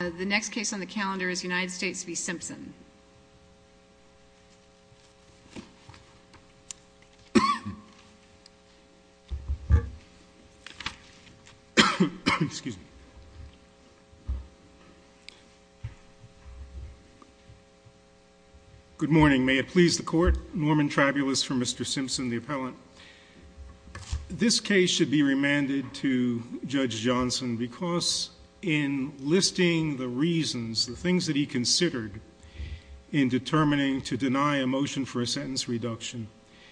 The next case on the calendar is United States v. Simpson. Good morning. May it please the court. Norman Tribulus for Mr. Simpson, the appellant. This case should be remanded to Judge Johnson because in listing the reasons, the things that he considered in determining to deny a motion for a sentence reduction,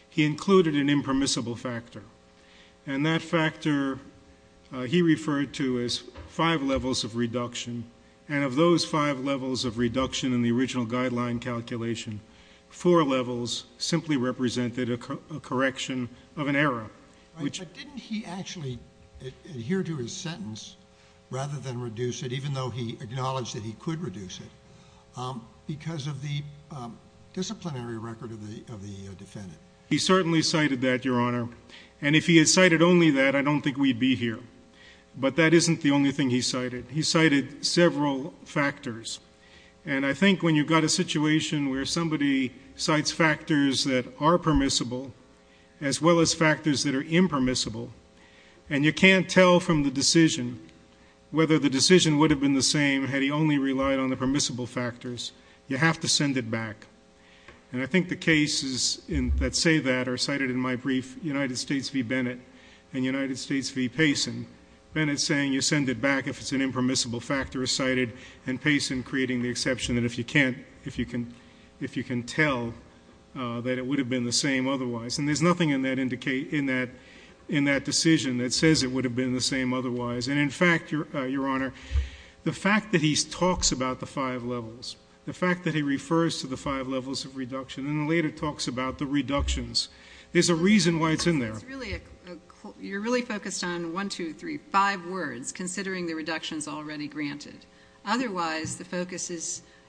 he included an impermissible factor, and that factor he referred to as five levels of reduction. And of those five levels of reduction in the original guideline calculation, four levels simply represented a correction of an error. But didn't he actually adhere to his sentence rather than reduce it, even though he acknowledged that he could reduce it, because of the disciplinary record of the defendant? He certainly cited that, Your Honor. And if he had cited only that, I don't think we'd be here. But that isn't the only thing he cited. He cited several factors. And I think when you've got a situation where somebody cites factors that are permissible, as well as factors that are impermissible, and you can't tell from the decision whether the decision would have been the same had he only relied on the permissible factors, you have to send it back. And I think the cases that say that are cited in my brief, United States v. Bennett and United States v. Payson. Bennett saying you send it back if it's an impermissible factor is cited, and Payson creating the exception that if you can tell that it would have been the same otherwise. And there's nothing in that decision that says it would have been the same otherwise. And in fact, Your Honor, the fact that he talks about the five levels, the fact that he refers to the five levels of reduction, and then later talks about the reductions, there's a reason why it's in there. You're really focused on one, two, three, five words, considering the reductions already granted. Otherwise, the focus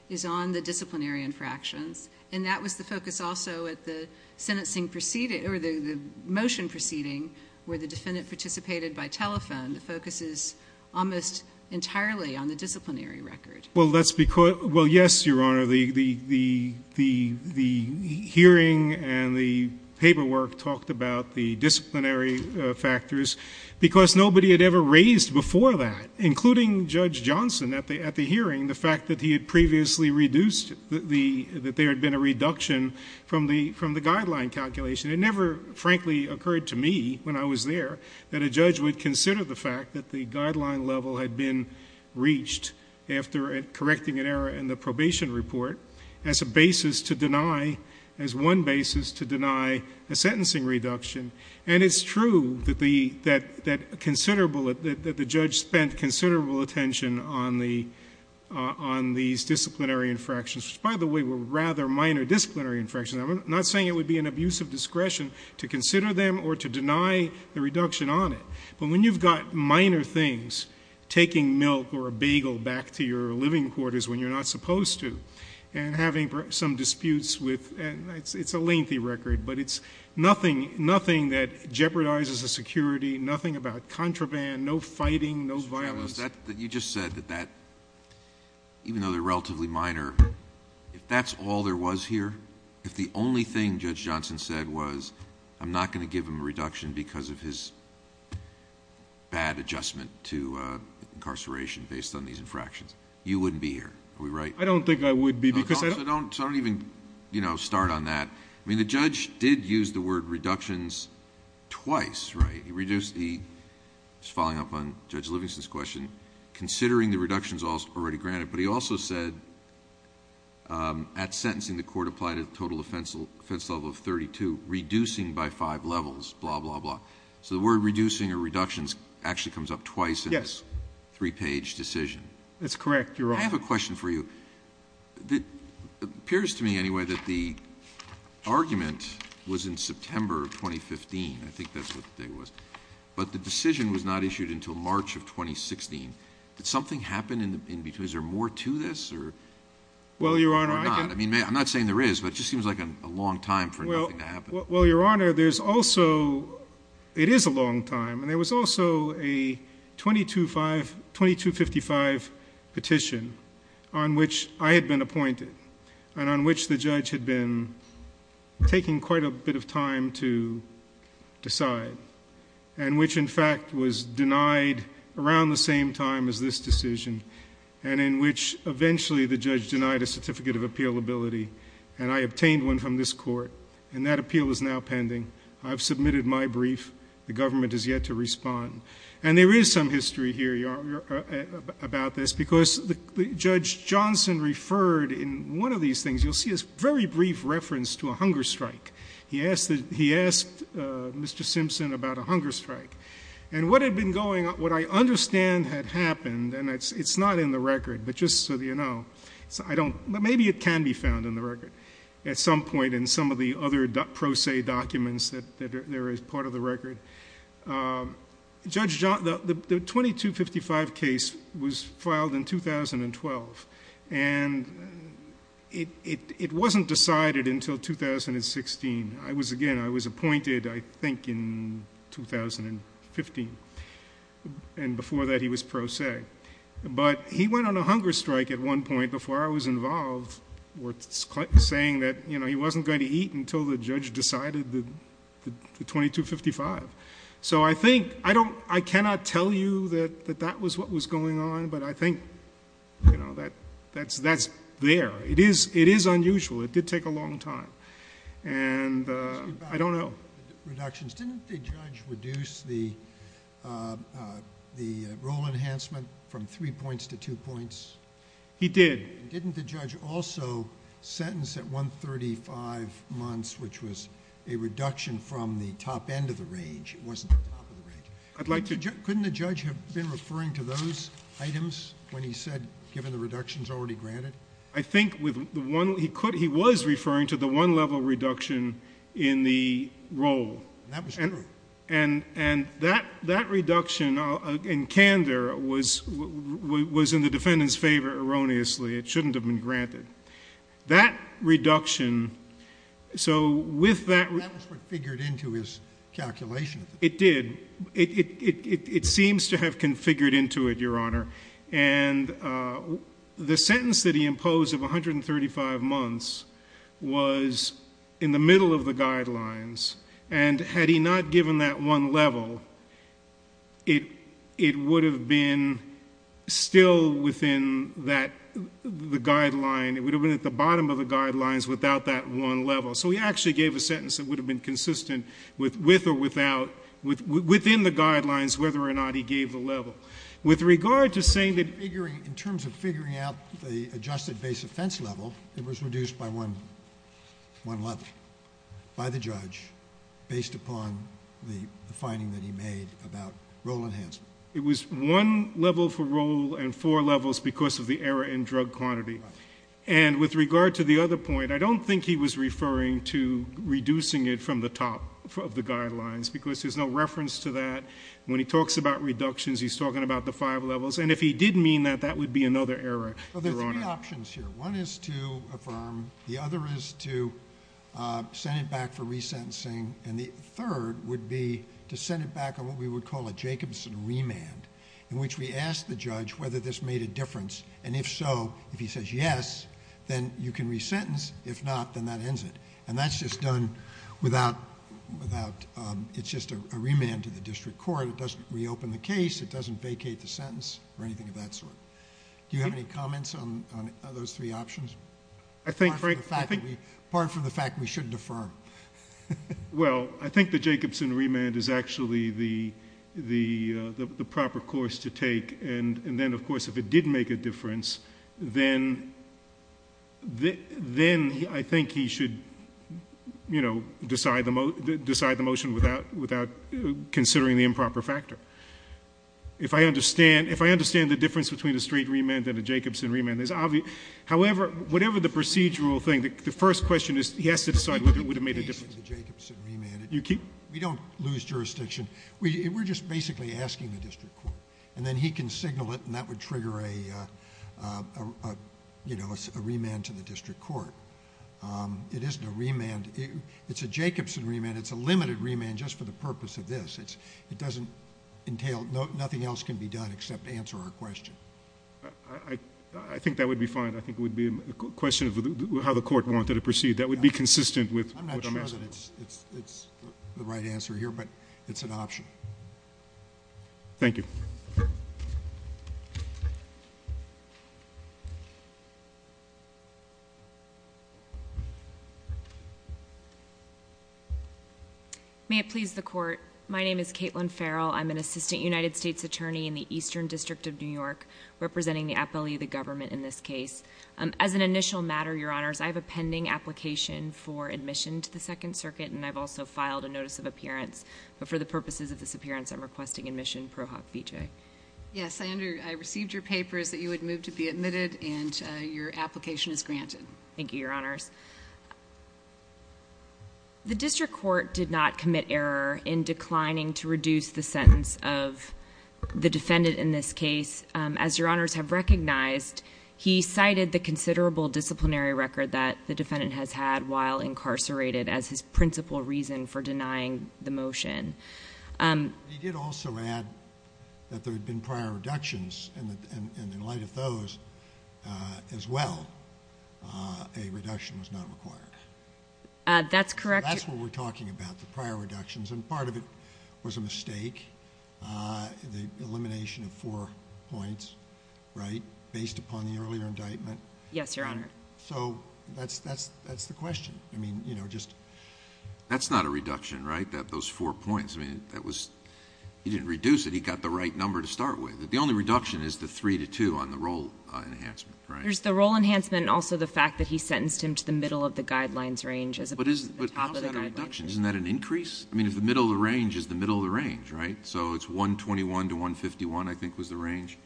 is on the disciplinary infractions, and that was the focus also at the motion proceeding where the defendant participated by telephone. The focus is almost entirely on the disciplinary record. Well, yes, Your Honor, the hearing and the paperwork talked about the disciplinary factors because nobody had ever raised before that, including Judge Johnson at the hearing, the fact that there had been a reduction from the guideline calculation. It never, frankly, occurred to me when I was there that a judge would consider the fact after correcting an error in the probation report as a basis to deny, as one basis to deny a sentencing reduction. And it's true that the judge spent considerable attention on these disciplinary infractions, which, by the way, were rather minor disciplinary infractions. I'm not saying it would be an abuse of discretion to consider them or to deny the reduction on it. But when you've got minor things, taking milk or a bagel back to your living quarters when you're not supposed to and having some disputes with, and it's a lengthy record, but it's nothing that jeopardizes the security, nothing about contraband, no fighting, no violence. Mr. Travis, you just said that even though they're relatively minor, if that's all there was here, if the only thing Judge Johnson said was I'm not going to give him a reduction because of his bad adjustment to incarceration based on these infractions, you wouldn't be here. Are we right? I don't think I would be because... So don't even start on that. I mean, the judge did use the word reductions twice, right? He reduced... just following up on Judge Livingston's question, considering the reductions already granted. But he also said at sentencing the court applied a total offense level of 32, reducing by five levels, blah, blah, blah. So the word reducing or reductions actually comes up twice in this three-page decision. That's correct, Your Honor. I have a question for you. It appears to me anyway that the argument was in September of 2015. I think that's what the date was. But the decision was not issued until March of 2016. Did something happen in between? Is there more to this or not? Well, Your Honor... I'm not saying there is, but it just seems like a long time for nothing to happen. Well, Your Honor, there's also... it is a long time, and there was also a 2255 petition on which I had been appointed and on which the judge had been taking quite a bit of time to decide and which, in fact, was denied around the same time as this decision and in which eventually the judge denied a certificate of appealability. And I obtained one from this court, and that appeal is now pending. I've submitted my brief. The government has yet to respond. And there is some history here, Your Honor, about this, because Judge Johnson referred in one of these things. You'll see this very brief reference to a hunger strike. He asked Mr. Simpson about a hunger strike. And what had been going on, what I understand had happened, and it's not in the record, but just so you know. Maybe it can be found in the record at some point in some of the other pro se documents that are part of the record. The 2255 case was filed in 2012, and it wasn't decided until 2016. Again, I was appointed, I think, in 2015, and before that he was pro se. But he went on a hunger strike at one point before I was involved saying that he wasn't going to eat until the judge decided the 2255. So I cannot tell you that that was what was going on, but I think that's there. It is unusual. It did take a long time. And I don't know. Reductions. Didn't the judge reduce the role enhancement from three points to two points? He did. Didn't the judge also sentence at 135 months, which was a reduction from the top end of the range? It wasn't the top of the range. Couldn't the judge have been referring to those items when he said given the reductions already granted? I think he was referring to the one level reduction in the role. That was true. And that reduction in candor was in the defendant's favor erroneously. It shouldn't have been granted. That reduction... That was what figured into his calculation. It did. It seems to have configured into it, Your Honor. And the sentence that he imposed of 135 months was in the middle of the guidelines. And had he not given that one level, it would have been still within the guideline. It would have been at the bottom of the guidelines without that one level. So he actually gave a sentence that would have been consistent with or without, within the guidelines, whether or not he gave the level. With regard to saying that... In terms of figuring out the adjusted base offense level, it was reduced by one level by the judge based upon the finding that he made about role enhancement. It was one level for role and four levels because of the error in drug quantity. And with regard to the other point, I don't think he was referring to reducing it from the top of the guidelines because there's no reference to that. When he talks about reductions, he's talking about the five levels. And if he did mean that, that would be another error, Your Honor. There are three options here. One is to affirm. The other is to send it back for resentencing. And the third would be to send it back on what we would call a Jacobson remand in which we ask the judge whether this made a difference. And if so, if he says yes, then you can resentence. If not, then that ends it. And that's just done without... It's just a remand to the district court. It doesn't reopen the case. It doesn't vacate the sentence or anything of that sort. Do you have any comments on those three options? I think... Apart from the fact that we shouldn't affirm. Well, I think the Jacobson remand is actually the proper course to take. And then, of course, if it did make a difference, then I think he should decide the motion without considering the improper factor. If I understand the difference between a straight remand and a Jacobson remand, however, whatever the procedural thing, the first question is he has to decide whether it would have made a difference. We don't lose jurisdiction. We're just basically asking the district court. And then he can signal it, and that would trigger a remand to the district court. It isn't a remand. It's a Jacobson remand. It's a limited remand just for the purpose of this. It doesn't entail... Nothing else can be done except answer our question. I think that would be fine. I think it would be a question of how the court wanted to proceed. That would be consistent with what I'm asking. I'm not sure that it's the right answer here, but it's an option. Thank you. May it please the Court. My name is Caitlin Farrell. I'm an assistant United States attorney in the Eastern District of New York, representing the appellee of the government in this case. As an initial matter, Your Honors, I have a pending application for admission to the Second Circuit, and I've also filed a notice of appearance. But for the purposes of this appearance, I'm requesting admission, ProHop Vijay. Yes, I received your papers that you had moved to be admitted, and your application is granted. Thank you, Your Honors. The district court did not commit error in declining to reduce the sentence of the defendant in this case. As Your Honors have recognized, he cited the considerable disciplinary record that the defendant has had while incarcerated as his principal reason for denying the motion. He did also add that there had been prior reductions, and in light of those as well, a reduction was not required. That's correct. That's what we're talking about, the prior reductions, and part of it was a mistake, the elimination of four points, right, based upon the earlier indictment. Yes, Your Honor. Correct. So that's the question. I mean, you know, just- That's not a reduction, right, those four points? I mean, he didn't reduce it. He got the right number to start with. The only reduction is the 3 to 2 on the role enhancement, right? There's the role enhancement and also the fact that he sentenced him to the middle of the guidelines range as opposed to the top of the guidelines range. But how is that a reduction? Isn't that an increase? I mean, if the middle of the range is the middle of the range, right? So it's 121 to 151, I think, was the range.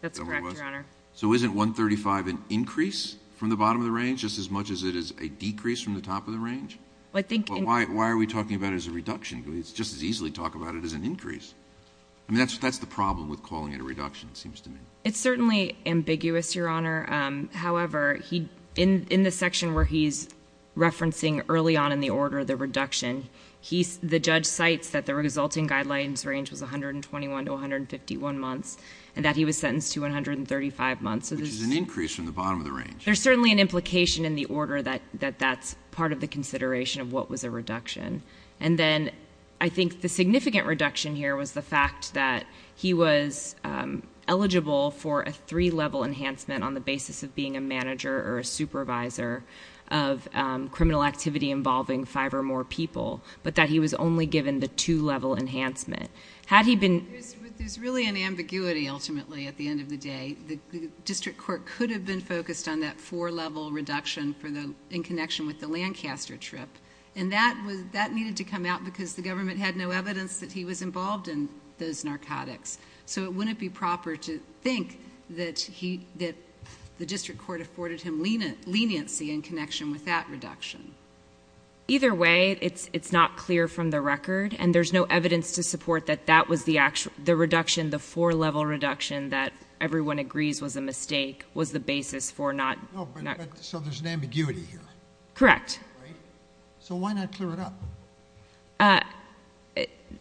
That's correct, Your Honor. So isn't 135 an increase from the bottom of the range, just as much as it is a decrease from the top of the range? Well, I think- But why are we talking about it as a reduction? We could just as easily talk about it as an increase. I mean, that's the problem with calling it a reduction, it seems to me. It's certainly ambiguous, Your Honor. However, in the section where he's referencing early on in the order the reduction, the judge cites that the resulting guidelines range was 121 to 151 months and that he was sentenced to 135 months. Which is an increase from the bottom of the range. There's certainly an implication in the order that that's part of the consideration of what was a reduction. And then I think the significant reduction here was the fact that he was eligible for a three-level enhancement on the basis of being a manager or a supervisor of criminal activity involving five or more people, but that he was only given the two-level enhancement. Had he been- There's really an ambiguity, ultimately, at the end of the day. The district court could have been focused on that four-level reduction in connection with the Lancaster trip. And that needed to come out because the government had no evidence that he was involved in those narcotics. So it wouldn't be proper to think that the district court afforded him leniency in connection with that reduction. Either way, it's not clear from the record, and there's no evidence to support that that was the reduction, the four-level reduction that everyone agrees was a mistake, was the basis for not- So there's an ambiguity here. Correct. Right. So why not clear it up?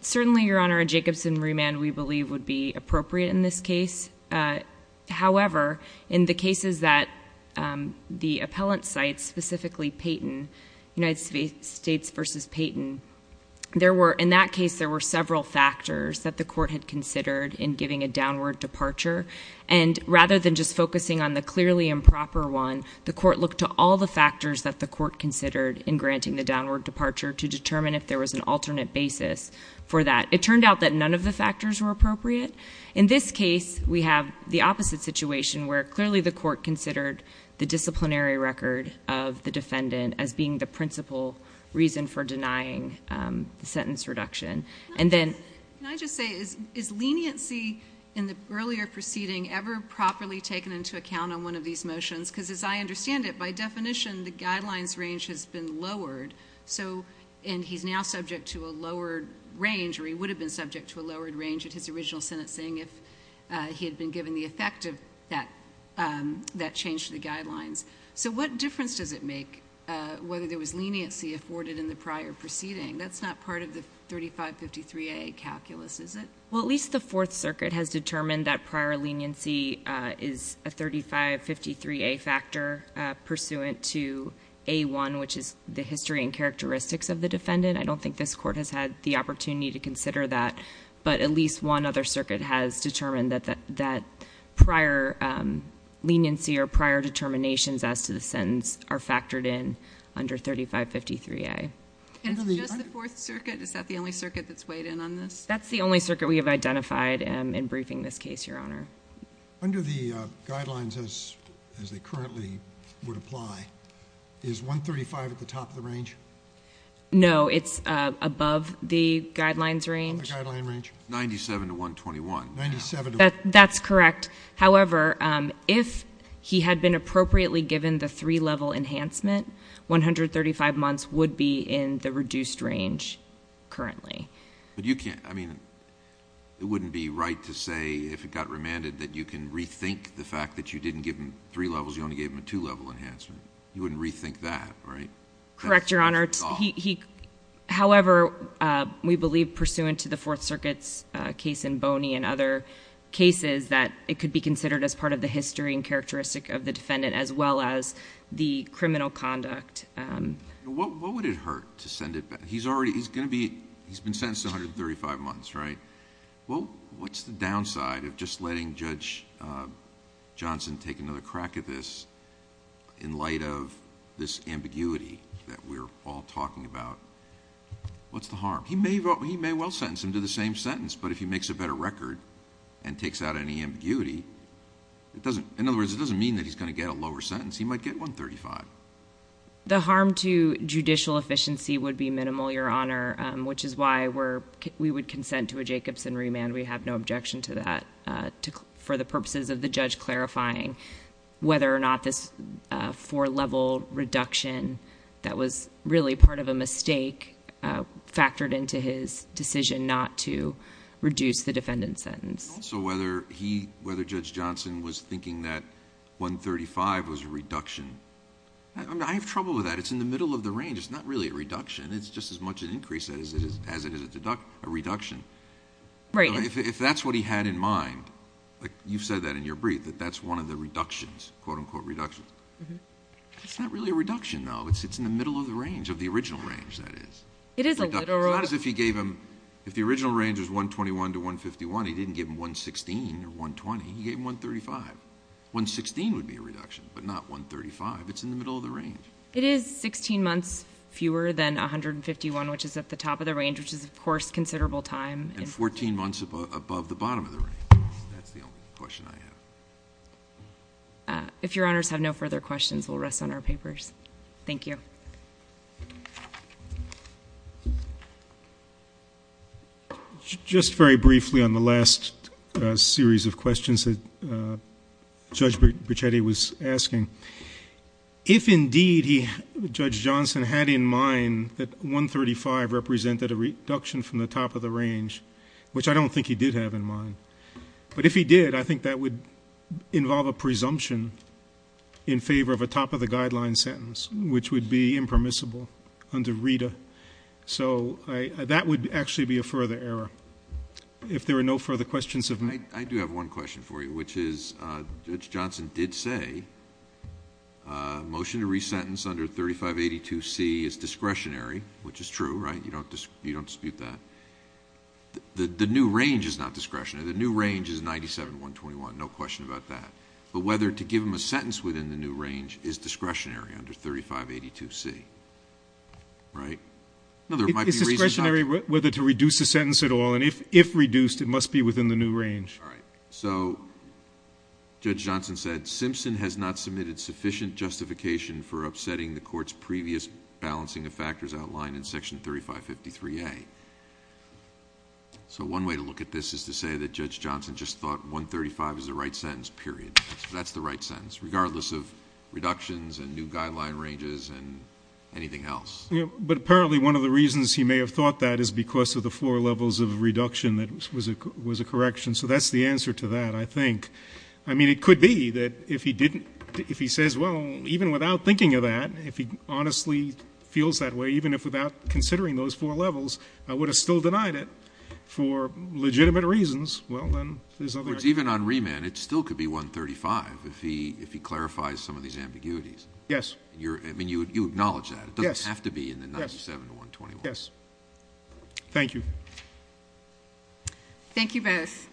Certainly, Your Honor, a Jacobson remand, we believe, would be appropriate in this case. However, in the cases that the appellant cites, specifically Payton, United States v. Payton, in that case there were several factors that the court had considered in giving a downward departure. And rather than just focusing on the clearly improper one, the court looked to all the factors that the court considered in granting the downward departure to determine if there was an alternate basis for that. It turned out that none of the factors were appropriate. In this case, we have the opposite situation where clearly the court considered the disciplinary record of the defendant as being the principal reason for denying the sentence reduction. Can I just say, is leniency in the earlier proceeding ever properly taken into account on one of these motions? Because as I understand it, by definition, the guidelines range has been lowered, and he's now subject to a lowered range, or he would have been subject to a lowered range, at his original sentencing if he had been given the effect of that change to the guidelines. So what difference does it make whether there was leniency afforded in the prior proceeding? That's not part of the 3553A calculus, is it? Well, at least the Fourth Circuit has determined that prior leniency is a 3553A factor pursuant to A1, which is the history and characteristics of the defendant. I don't think this court has had the opportunity to consider that, but at least one other circuit has determined that prior leniency or prior determinations as to the sentence are factored in under 3553A. And it's just the Fourth Circuit? Is that the only circuit that's weighed in on this? That's the only circuit we have identified in briefing this case, Your Honor. Under the guidelines as they currently would apply, is 135 at the top of the range? No, it's above the guidelines range. Above the guideline range? 97 to 121. That's correct. However, if he had been appropriately given the three-level enhancement, 135 months would be in the reduced range currently. But you can't, I mean, it wouldn't be right to say if it got remanded that you can rethink the fact that you didn't give him three levels, you only gave him a two-level enhancement. You wouldn't rethink that, right? Correct, Your Honor. However, we believe pursuant to the Fourth Circuit's case in Boney and other cases that it could be considered as part of the history and characteristic of the defendant as well as the criminal conduct. What would it hurt to send it back? He's going to be... he's been sentenced to 135 months, right? What's the downside of just letting Judge Johnson take another crack at this in light of this ambiguity that we're all talking about? What's the harm? He may well sentence him to the same sentence, but if he makes a better record and takes out any ambiguity, in other words, it doesn't mean that he's going to get a lower sentence. He might get 135. The harm to judicial efficiency would be minimal, Your Honor, which is why we would consent to a Jacobson remand. We have no objection to that for the purposes of the judge clarifying whether or not this four-level reduction that was really part of a mistake factored into his decision not to reduce the defendant's sentence. Also, whether Judge Johnson was thinking that 135 was a reduction. I have trouble with that. It's in the middle of the range. It's not really a reduction. It's just as much an increase as it is a reduction. If that's what he had in mind... You said that in your brief, that that's one of the reductions, quote-unquote reductions. It's not really a reduction, though. It's in the middle of the range, of the original range, that is. It is a little... It's not as if he gave him... If the original range was 121 to 151, he didn't give him 116 or 120. He gave him 135. 116 would be a reduction, but not 135. It's in the middle of the range. It is 16 months fewer than 151, which is at the top of the range, which is, of course, considerable time. And 14 months above the bottom of the range. That's the only question I have. If Your Honors have no further questions, we'll rest on our papers. Thank you. Just very briefly on the last series of questions that Judge Bricetti was asking. If, indeed, Judge Johnson had in mind that 135 represented a reduction from the top of the range, which I don't think he did have in mind, but if he did, I think that would involve a presumption in favor of a top-of-the-guideline sentence, which would be impermissible under RITA. So that would actually be a further error. If there are no further questions of me... Motion to resentence under 3582C is discretionary, which is true, right? You don't dispute that. The new range is not discretionary. The new range is 97-121, no question about that. But whether to give him a sentence within the new range is discretionary under 3582C, right? No, there might be reasons not to. It's discretionary whether to reduce the sentence at all, and if reduced, it must be within the new range. All right. So Judge Johnson said, Simpson has not submitted sufficient justification for upsetting the Court's previous balancing of factors outlined in Section 3553A. So one way to look at this is to say that Judge Johnson just thought 135 is the right sentence, period. That's the right sentence, regardless of reductions and new guideline ranges and anything else. But apparently one of the reasons he may have thought that is because of the four levels of reduction that was a correction. So that's the answer to that, I think. I mean, it could be that if he says, well, even without thinking of that, if he honestly feels that way, even if without considering those four levels, I would have still denied it for legitimate reasons, well, then there's other reasons. Even on remand, it still could be 135 if he clarifies some of these ambiguities. I mean, you acknowledge that. Yes. It doesn't have to be in the 97-121. Yes. Thank you. Thank you both.